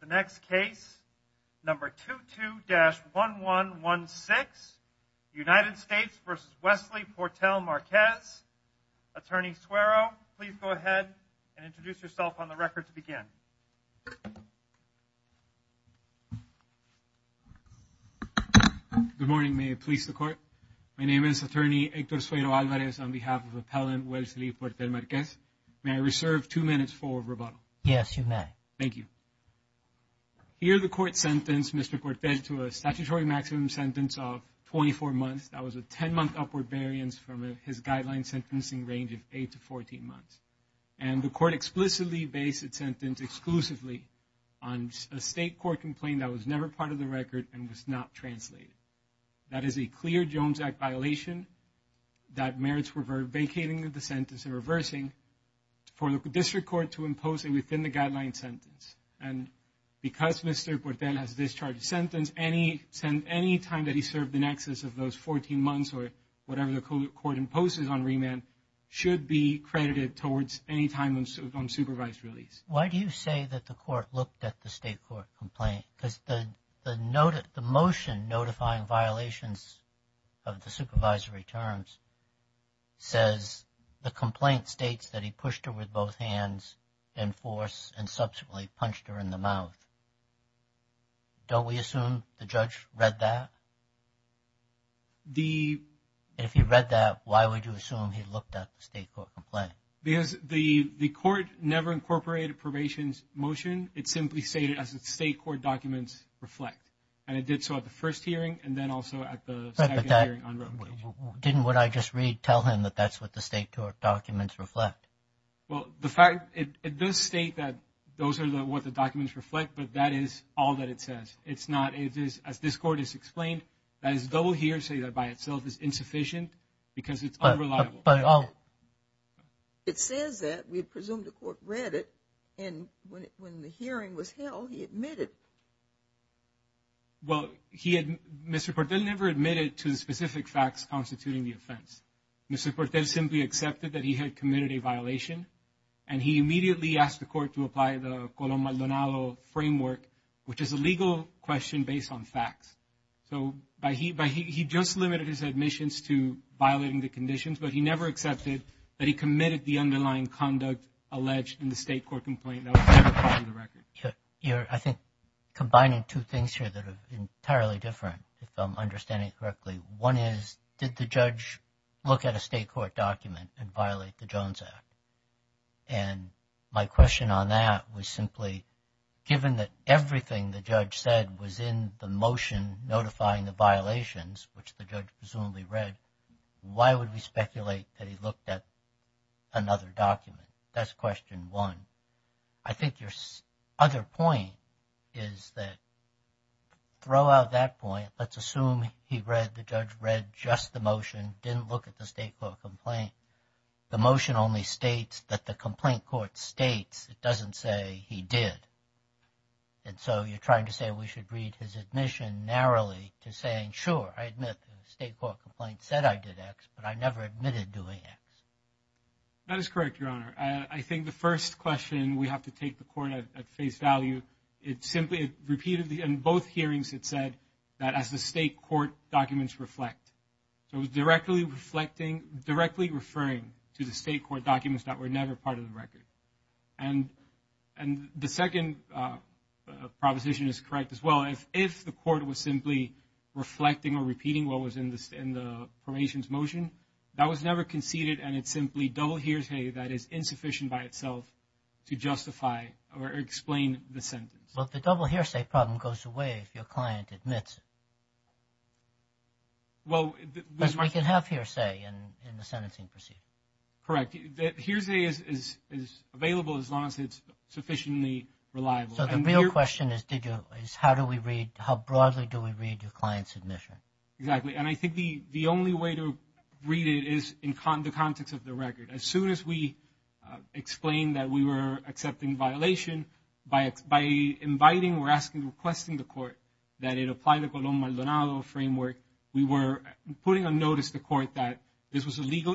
The next case, number 22-1116, United States v. Wesley Portell-Marquez. Attorney Suero, please go ahead and introduce yourself on the record to begin. Good morning, may it please the court. My name is attorney Hector Suero Alvarez on behalf of Here the court sentenced Mr. Cortez to a statutory maximum sentence of 24 months. That was a 10-month upward variance from his guideline sentencing range of 8 to 14 months. And the court explicitly based its sentence exclusively on a state court complaint that was never part of the record and was not translated. That is a clear Jones Act violation that merits revocation of the sentence and reversing for the district court to impose it within the guideline sentence. And because Mr. Portell has discharged a sentence, any time that he served in excess of those 14 months or whatever the court imposes on remand should be credited towards any time on supervised release. Why do you say that the court looked at the state court complaint? Because the motion notifying violations of the supervisory terms says the complaint states that he pushed her with both hands in force and subsequently punched her in the mouth. Don't we assume the judge read that? If he read that, why would you assume he looked at the state court complaint? Because the court never incorporated a probation motion. It simply stated as the state court reflect. And it did so at the first hearing and then also at the second hearing on revocation. Didn't what I just read tell him that that's what the state court documents reflect? Well, the fact it does state that those are what the documents reflect, but that is all that it says. It's not, as this court has explained, that is double hearsay that by itself is insufficient because it's unreliable. It says that we presume the court read it and when the hearing was held, he admitted. Well, Mr. Portel never admitted to the specific facts constituting the offense. Mr. Portel simply accepted that he had committed a violation and he immediately asked the court to apply the Colón-Maldonado framework, which is a legal question based on facts. So he just limited his admissions to violating the conditions, but he never accepted that he committed the I think combining two things here that are entirely different, if I'm understanding correctly. One is, did the judge look at a state court document and violate the Jones Act? And my question on that was simply, given that everything the judge said was in the motion notifying the violations, which the judge presumably read, why would we speculate that he looked at another document? That's question one. I think your other point is that, throw out that point, let's assume he read, the judge read just the motion, didn't look at the state court complaint. The motion only states that the complaint court states, it doesn't say he did. And so you're trying to say we should read his admission narrowly to saying, sure, I said I did X, but I never admitted doing X. That is correct, Your Honor. I think the first question we have to take the court at face value, it simply repeated in both hearings, it said that as the state court documents reflect. So it was directly reflecting, directly referring to the state court documents that were never part of the record. And the second proposition is correct as if the court was simply reflecting or repeating what was in the formation's motion, that was never conceded, and it's simply double hearsay that is insufficient by itself to justify or explain the sentence. Well, the double hearsay problem goes away if your client admits it. Well, we can have hearsay in the sentencing procedure. Correct. Hearsay is available as sufficiently reliable. So the real question is how do we read, how broadly do we read your client's admission? Exactly. And I think the only way to read it is in the context of the record. As soon as we explain that we were accepting violation, by inviting or asking, requesting the court that it apply the Colón-Maldonado framework, we were putting a notice to court that this was a need to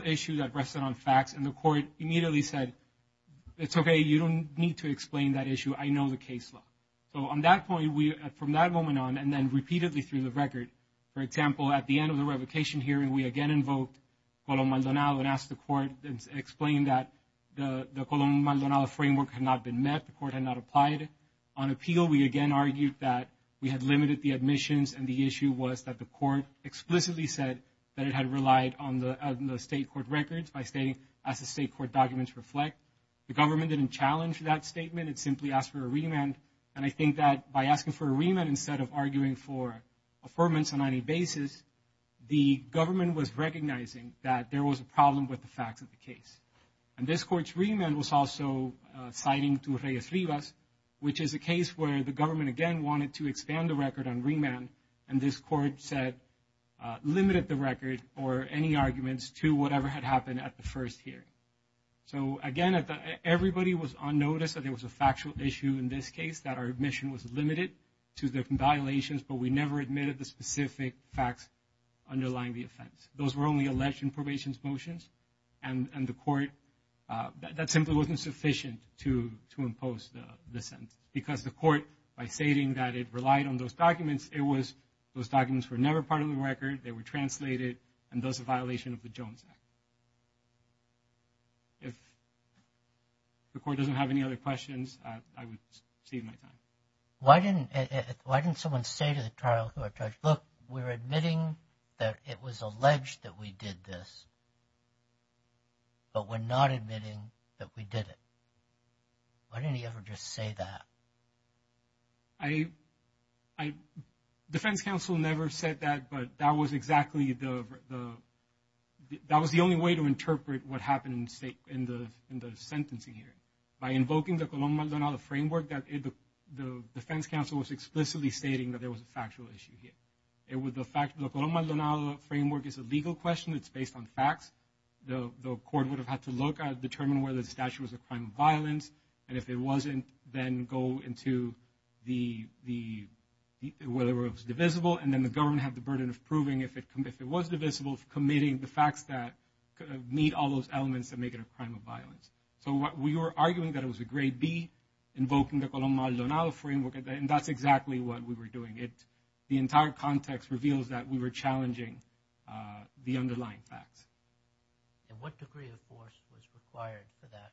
explain that issue. I know the case law. So on that point, from that moment on, and then repeatedly through the record, for example, at the end of the revocation hearing, we again invoked Colón-Maldonado and asked the court to explain that the Colón-Maldonado framework had not been met, the court had not applied. On appeal, we again argued that we had limited the admissions and the issue was that the court explicitly said that it had relied on the state court records by stating as the state court documents reflect. The government didn't challenge that statement. It simply asked for a remand. And I think that by asking for a remand instead of arguing for affirmance on any basis, the government was recognizing that there was a problem with the facts of the case. And this court's remand was also citing to Reyes-Rivas, which is a case where the government again wanted to expand the record on remand. And this court said, limited the record or any arguments to whatever had happened at the first hearing. So again, everybody was on notice that there was a factual issue in this case that our admission was limited to the violations, but we never admitted the specific facts underlying the offense. Those were only alleged in probation's motions. And the court, that simply wasn't sufficient to impose the sentence. Because the court, by stating that it relied on those documents, it was, those documents were never part of the record. They were translated and those a violation of the Jones Act. If the court doesn't have any other questions, I would save my time. Why didn't someone say to the trial court judge, look, we're admitting that it was alleged that we did this, but we're not admitting that we did it. Why didn't he ever just say that? I, defense counsel never said that, but that was exactly the, that was the only way to interpret what happened in the sentencing hearing. By invoking the Colón-Maldonado framework, that the defense counsel was explicitly stating that there was a factual issue here. It was the fact that the Colón-Maldonado framework is a legal question. It's based on facts. The court would have had to look at, determine whether the statute was a crime of violence. And if it wasn't, then go into the, whether it was divisible. And then the government had the burden of proving if it was divisible, committing the facts that meet all those elements that make it a crime of violence. So what we were arguing that it was a grade B, invoking the Colón-Maldonado framework, and that's exactly what we were doing. The entire context reveals that we were challenging the underlying facts. And what degree of force was required for that?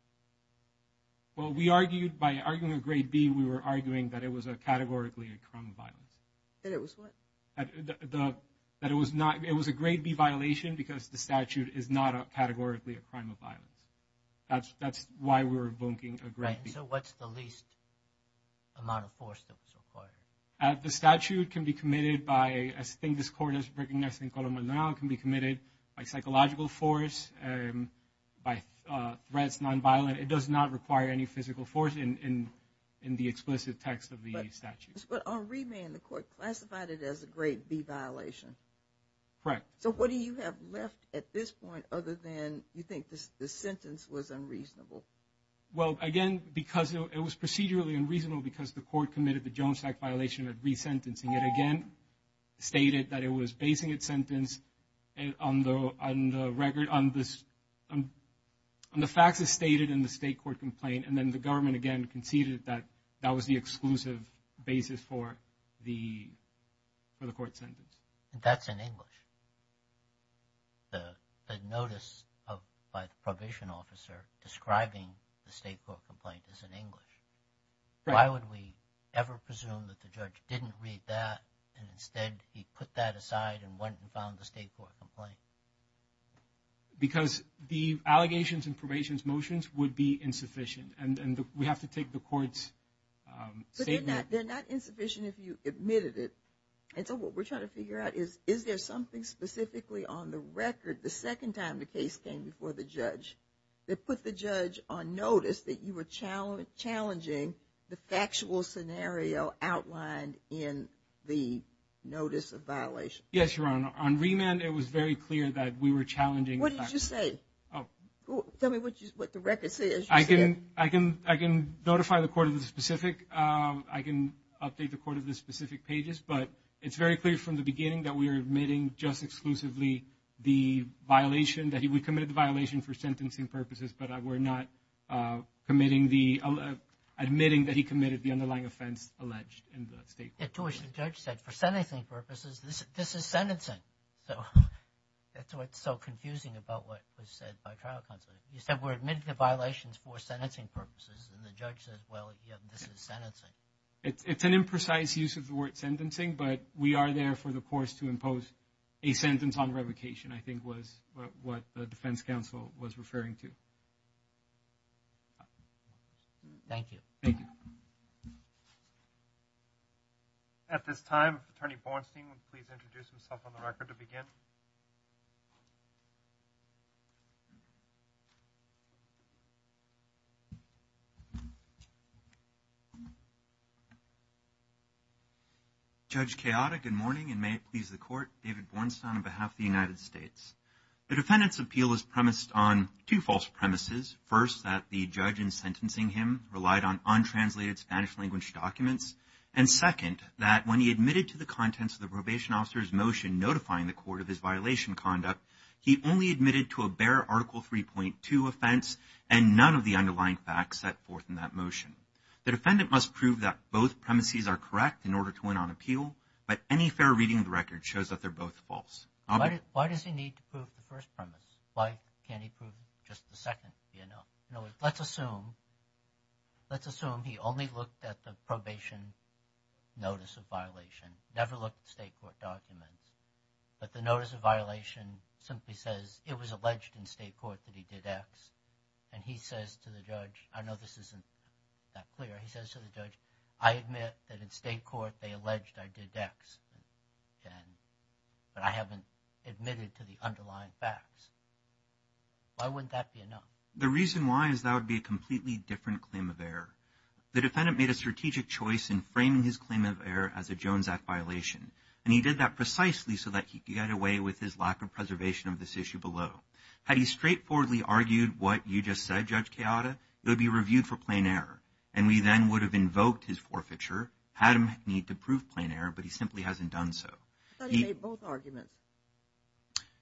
Well, we argued, by arguing a grade B, we were arguing that it was a categorically a crime of violence. That it was what? That it was not, it was a grade B violation because the statute is not a categorically a crime of violence. That's, that's why we were invoking a grade B. So what's the least amount of force that was required? The statute can be committed by, I think this court has recognized in Colón-Maldonado, can be committed by psychological force, by threats, nonviolent. It does not require any physical force in the explicit text of the statute. But on remand, the court classified it as a grade B violation. Correct. So what do you have left at this point, other than you think this sentence was unreasonable? Well, again, because it was procedurally unreasonable because the court committed the Jones Act violation of resentencing. It again stated that it was basing its sentence on the record, on this, on the facts as stated in the state court complaint. And then the government again conceded that that was the exclusive basis for the, for the court sentence. That's in English. The, the notice of, by the probation officer describing the state court complaint is in English. Why would we ever presume that the judge didn't read that and instead he put that aside and went and found the state court complaint? Because the allegations and probation's motions would be insufficient and, and the, we have to take the court's statement. They're not insufficient if you admitted it. And so what we're trying to figure out is, is there something specifically on the record the second time the case came before the judge that put the judge on notice that you were challenge, challenging the factual scenario outlined in the notice of violation? Yes, Your Honor. On remand, it was very clear that we were challenging. What did you say? Tell me what you, what the record says. I can, I can, I can notify the court of the specific, I can update the court of the specific pages, but it's very clear from the beginning that we are admitting just exclusively the violation that he, we committed the violation for sentencing purposes, but we're not committing the, admitting that he committed the underlying offense alleged in the state court. Yet to which the judge said, for sentencing purposes, this, this is sentencing. So that's what's so confusing about what was said by trial counsel. You said we're admitting the violations for sentencing purposes and the judge says, well, yeah, this is sentencing. It's, it's an imprecise use of the word sentencing, but we are there for the course to impose a sentence on revocation, I think was what the defense counsel was referring to. Thank you. Thank you. At this time, attorney Bornstein, please introduce himself on the record to begin. Judge Kayada, good morning and may it please the court, David Bornstein on behalf of the United States. The defendant's appeal is premised on two false premises. First, that the judge in sentencing him relied on untranslated Spanish language documents. And second, that when he admitted to the contents of the probation officer's motion, notifying the court of his violation conduct, he only admitted to a bare article 3.2 offense and none of the underlying facts set forth in that motion. The defendant must prove that both premises are correct in order to win on appeal, but any fair reading of the record shows that they're both false. Why does he need to prove the first premise? Why can't he prove just the second? You know, let's assume, let's assume he only looked at the probation notice of violation, never looked at state court documents, but the notice of violation simply says it was alleged in state court that he did X. And he says to the judge, I know this isn't that clear, he says to the judge, I admit that in state court they alleged I did X, but I haven't admitted to the underlying facts. Why wouldn't that be enough? The reason why is that would be a completely different claim of error. The defendant made a strategic choice in framing his claim of error as a Jones Act violation, and he did that precisely so that he could get away with his lack of preservation of this issue below. Had he straightforwardly argued what you just said, Judge Queada, it would be reviewed for his forfeiture. Had him need to prove plain error, but he simply hasn't done so. I thought he made both arguments.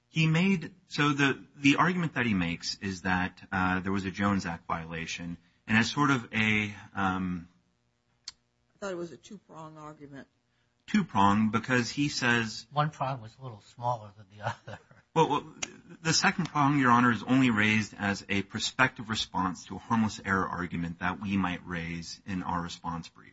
He made, so the argument that he makes is that there was a Jones Act violation, and as sort of a, I thought it was a two prong argument. Two prong, because he says, One prong was a little smaller than the other. Well, the second prong, Your Honor, is only raised as a prospective response to a harmless error argument that we might raise in our response brief.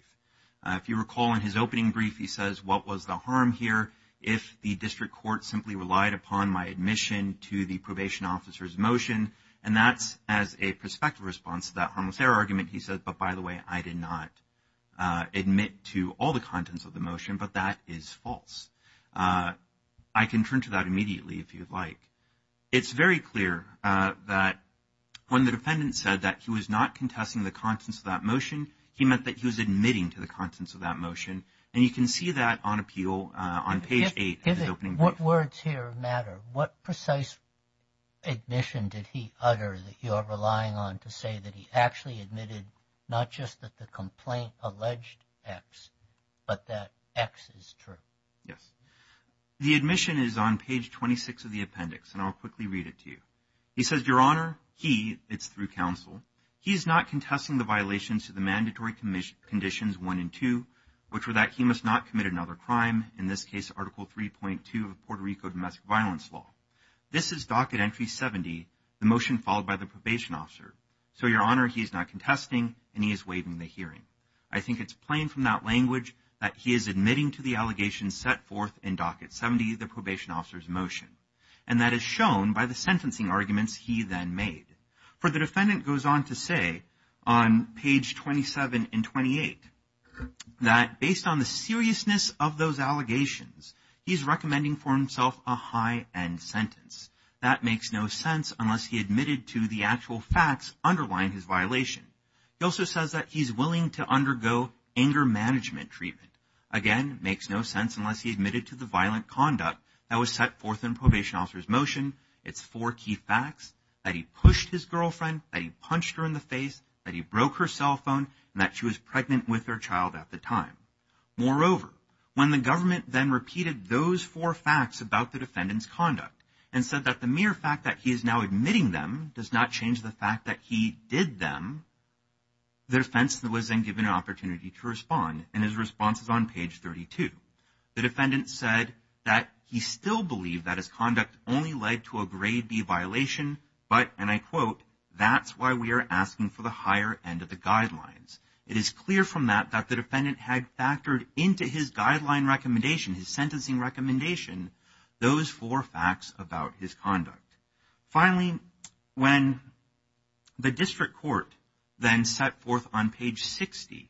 If you recall in his opening brief, he says, What was the harm here if the district court simply relied upon my admission to the probation officer's motion? And that's as a prospective response to that harmless error argument. He says, But by the way, I did not admit to all the contents of the motion, but that is false. I can turn to that immediately if you'd like. It's very clear that when the defendant said that he was not contesting the contents of that motion, he meant that he was admitting to the contents of that motion. And you can see that on appeal on page 8 of his opening brief. What words here matter? What precise admission did he utter that you are relying on to say that he actually admitted not just that the complaint alleged X, but that X is true? Yes. The admission is on page 26 of the appendix, and I'll quickly read it to you. He says, Your Honor, he, it's through counsel. He is not contesting the violations to the mandatory conditions one and two, which were that he must not commit another crime. In this case, Article 3.2 of Puerto Rico domestic violence law. This is docket entry 70, the motion followed by the probation officer. So, Your Honor, he is not contesting and he is waiving the hearing. I think it's plain from that language that he is admitting to the allegations set forth in docket 70, the probation officer's motion. And that is shown by the sentencing arguments he then made. For the defendant goes on to say on page 27 and 28, that based on the seriousness of those allegations, he's recommending for himself a high end sentence. That makes no sense unless he admitted to the actual facts underlying his violation. He also says that he's willing to undergo anger management treatment. Again, makes no sense unless he admitted to the violent conduct that was set forth in probation officer's motion. It's four key facts that he pushed his girlfriend, that he punched her in the face, that he broke her cell phone, and that she was pregnant with their child at the time. Moreover, when the government then repeated those four facts about the defendant's conduct and said that the mere fact that he is now admitting them does not change the fact that he did them. The defense was then given an opportunity to respond. And his response is on page 32. The defendant said that he still believed that his conduct only led to a grade B violation. But, and I quote, that's why we are asking for the higher end of the guidelines. It is clear from that that the defendant had factored into his guideline recommendation, Finally, when the district court then set forth on page 60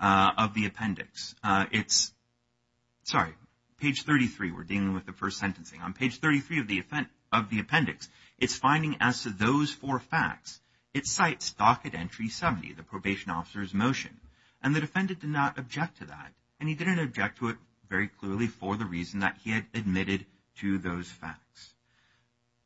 of the appendix, it's, sorry, page 33, we're dealing with the first sentencing. On page 33 of the appendix, it's finding as to those four facts, it cites docket entry 70, the probation officer's motion. And the defendant did not object to that. And he didn't object to it very clearly for the reason that he had admitted to those facts.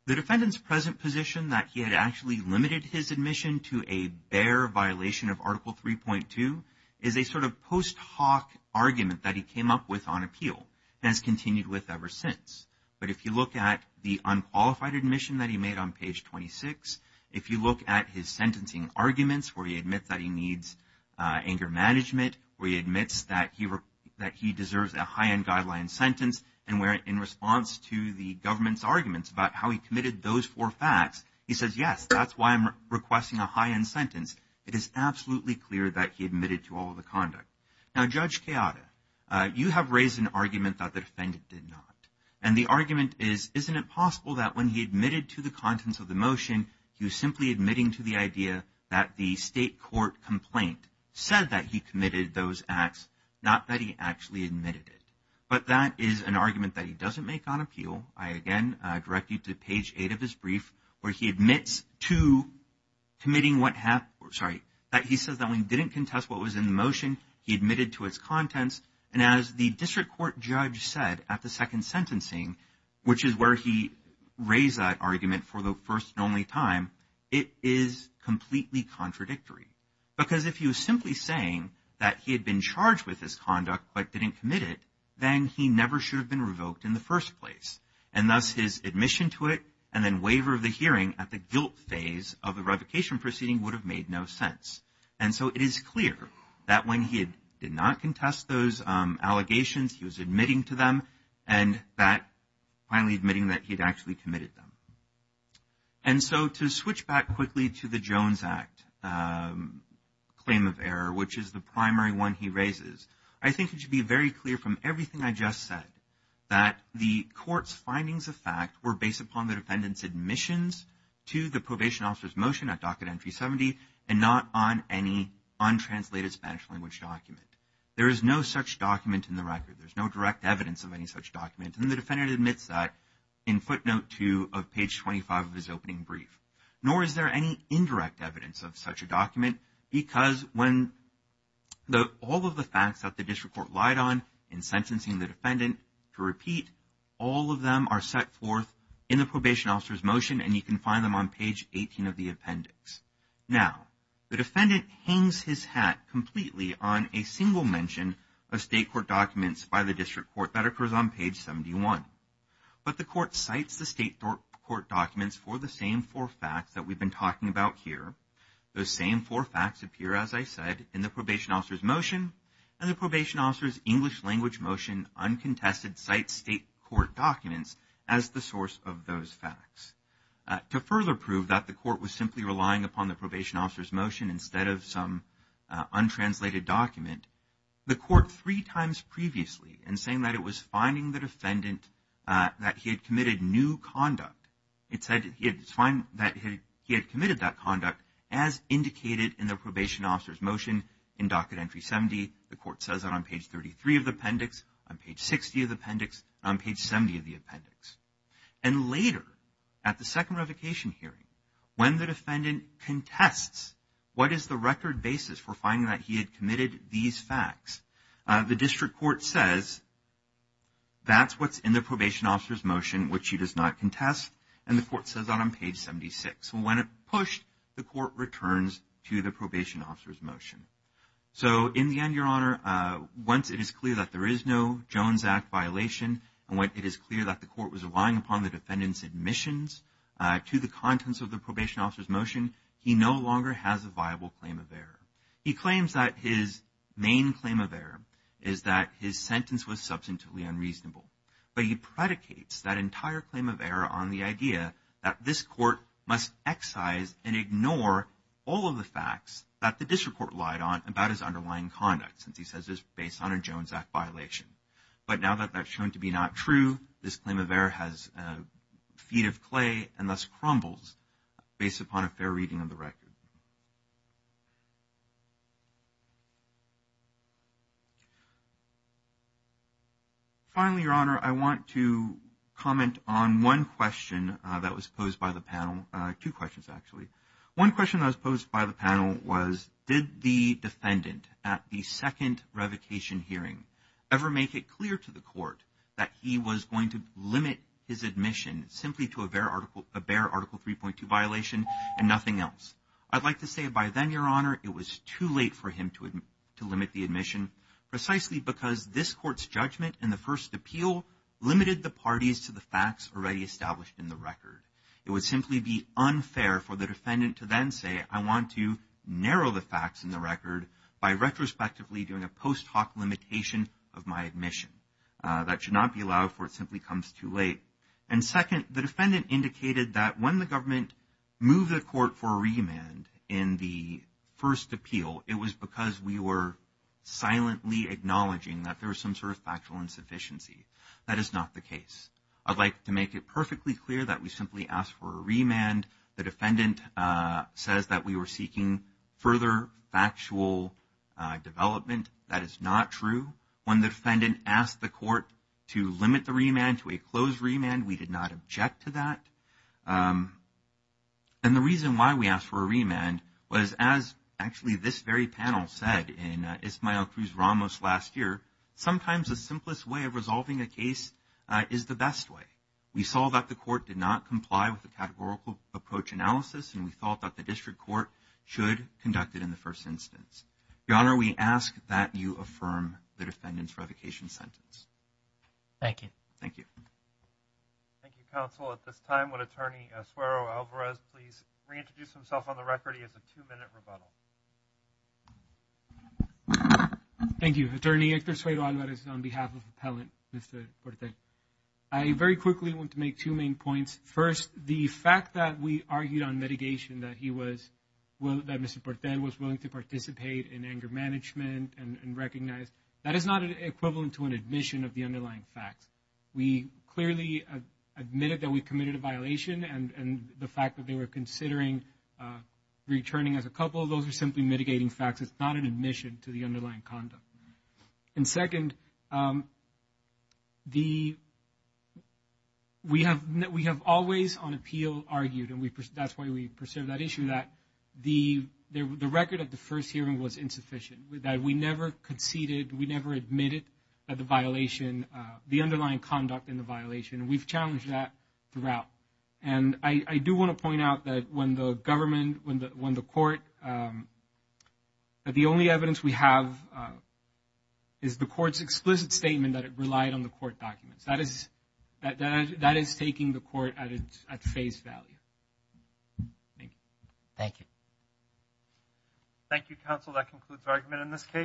The defendant's present position that he had actually limited his admission to a bare violation of article 3.2 is a sort of post hoc argument that he came up with on appeal and has continued with ever since. But if you look at the unqualified admission that he made on page 26, if you look at his sentencing arguments where he admits that he needs anger management, where he admits that he, that he deserves a high end guideline sentence. And where in response to the government's arguments about how he committed those four facts, he says, yes, that's why I'm requesting a high end sentence. It is absolutely clear that he admitted to all of the conduct. Now, Judge Keada, you have raised an argument that the defendant did not. And the argument is, isn't it possible that when he admitted to the contents of the motion, he was simply admitting to the idea that the state court complaint said that he committed those acts, not that he actually admitted it. But that is an argument that he doesn't make on appeal. I, again, direct you to page 8 of his brief where he admits to committing what happened, sorry, that he says that when he didn't contest what was in the motion, he admitted to its contents. And as the district court judge said at the second sentencing, which is where he raised that argument for the first and only time, it is completely contradictory. Because if he was simply saying that he had been charged with this conduct but didn't commit it, then he never should have been revoked in the first place. And thus, his admission to it and then waiver of the hearing at the guilt phase of the revocation proceeding would have made no sense. And so, it is clear that when he did not contest those allegations, he was admitting to them and that finally admitting that he had actually committed them. And so, to switch back quickly to the Jones Act claim of error, which is the primary one he raises, I think it should be very clear from everything I just said that the court's findings of fact were based upon the defendant's admissions to the probation officer's motion at Docket Entry 70 and not on any untranslated Spanish language document. There is no such document in the record. There's no direct evidence of any such document. And the defendant admits that in footnote 2 of page 25 of his opening brief. Nor is there any indirect evidence of such a document because when all of the facts that the district court lied on in sentencing the defendant to repeat, all of them are set forth in the probation officer's motion and you can find them on page 18 of the appendix. Now, the defendant hangs his hat completely on a single mention of state court documents by the district court that occurs on page 71. But the court cites the state court documents for the same four facts that we've been talking about here. Those same four facts appear, as I said, in the probation officer's motion and the probation officer's English language motion uncontested cite state court documents as the source of those facts. To further prove that the court was simply relying upon the probation officer's motion instead of some untranslated document, the court three times previously in saying that it was finding the defendant that he had committed new conduct. It said that he had committed that conduct as indicated in the probation officer's motion in docket entry 70. The court says that on page 33 of the appendix, on page 60 of the appendix, on page 70 of the appendix. And later, at the second revocation hearing, when the defendant contests what is the record basis for finding that he had committed these facts, the district court says that's what's in the probation officer's motion, which he does not contest. And the court says that on page 76. When it pushed, the court returns to the probation officer's motion. So in the end, Your Honor, once it is clear that there is no Jones Act violation and when it is clear that the court was relying upon the defendant's admissions to the contents of the probation officer's motion, he no longer has a viable claim of error. He claims that his main claim of error is that his sentence was substantively unreasonable. But he predicates that entire claim of error on the idea that this court must excise and ignore all of the facts that the district court lied on about his underlying conduct, since he says it's based on a Jones Act violation. But now that that's shown to be not true, this claim of error has feet of clay and thus crumbles based upon a fair reading of the record. Finally, Your Honor, I want to comment on one question that was posed by the panel. Two questions, actually. One question that was posed by the panel was, did the defendant at the second revocation hearing ever make it clear to the court that he was going to limit his admission simply to a bare Article 3.2 violation and nothing else? I'd like to say by then, Your Honor, it was too late for him to limit the admission precisely because this court's judgment in the first appeal limited the parties to the facts already established in the record. It would simply be unfair for the defendant to then say, I want to narrow the facts in the record by retrospectively doing a post hoc limitation of my admission. That should not be allowed for it simply comes too late. And second, the defendant indicated that when the government moved the court for a remand in the first appeal, it was because we were silently acknowledging that there was some sort of factual insufficiency. That is not the case. I'd like to make it perfectly clear that we simply asked for a remand. The defendant says that we were seeking further factual development. That is not true. When the defendant asked the court to limit the remand to a closed remand, we did not object to that. And the reason why we asked for a remand was as actually this very panel said in Ismael Cruz Ramos last year, sometimes the simplest way of resolving a case is the best way. We saw that the court did not comply with the categorical approach analysis and we thought that the district court should conduct it in the first instance. Your Honor, we ask that you affirm the defendant's revocation sentence. Thank you. Thank you. Thank you, counsel. At this time, would attorney Suero-Alvarez please reintroduce himself on the record? He has a two minute rebuttal. Thank you, attorney. Hector Suero-Alvarez on behalf of appellant, Mr. Portel. I very quickly want to make two main points. First, the fact that we argued on mitigation that he was, well, that Mr. Portel was willing to participate in anger management and recognized, that is not an equivalent to an admission of the underlying facts. We clearly admitted that we committed a violation and the fact that they were considering returning as a couple, those are simply mitigating facts. It's not an admission to the underlying conduct. And second, the, we have always on appeal argued and that's why we preserve that issue that the record of the first hearing was insufficient. That we never conceded, we never admitted that the violation, the underlying conduct in the violation. We've challenged that throughout. And I do want to point out that when the government, when the court, that the only evidence we have is the court's explicit statement that it relied on the court documents. That is taking the court at face value. Thank you. Thank you. Thank you, counsel. That concludes argument in this case.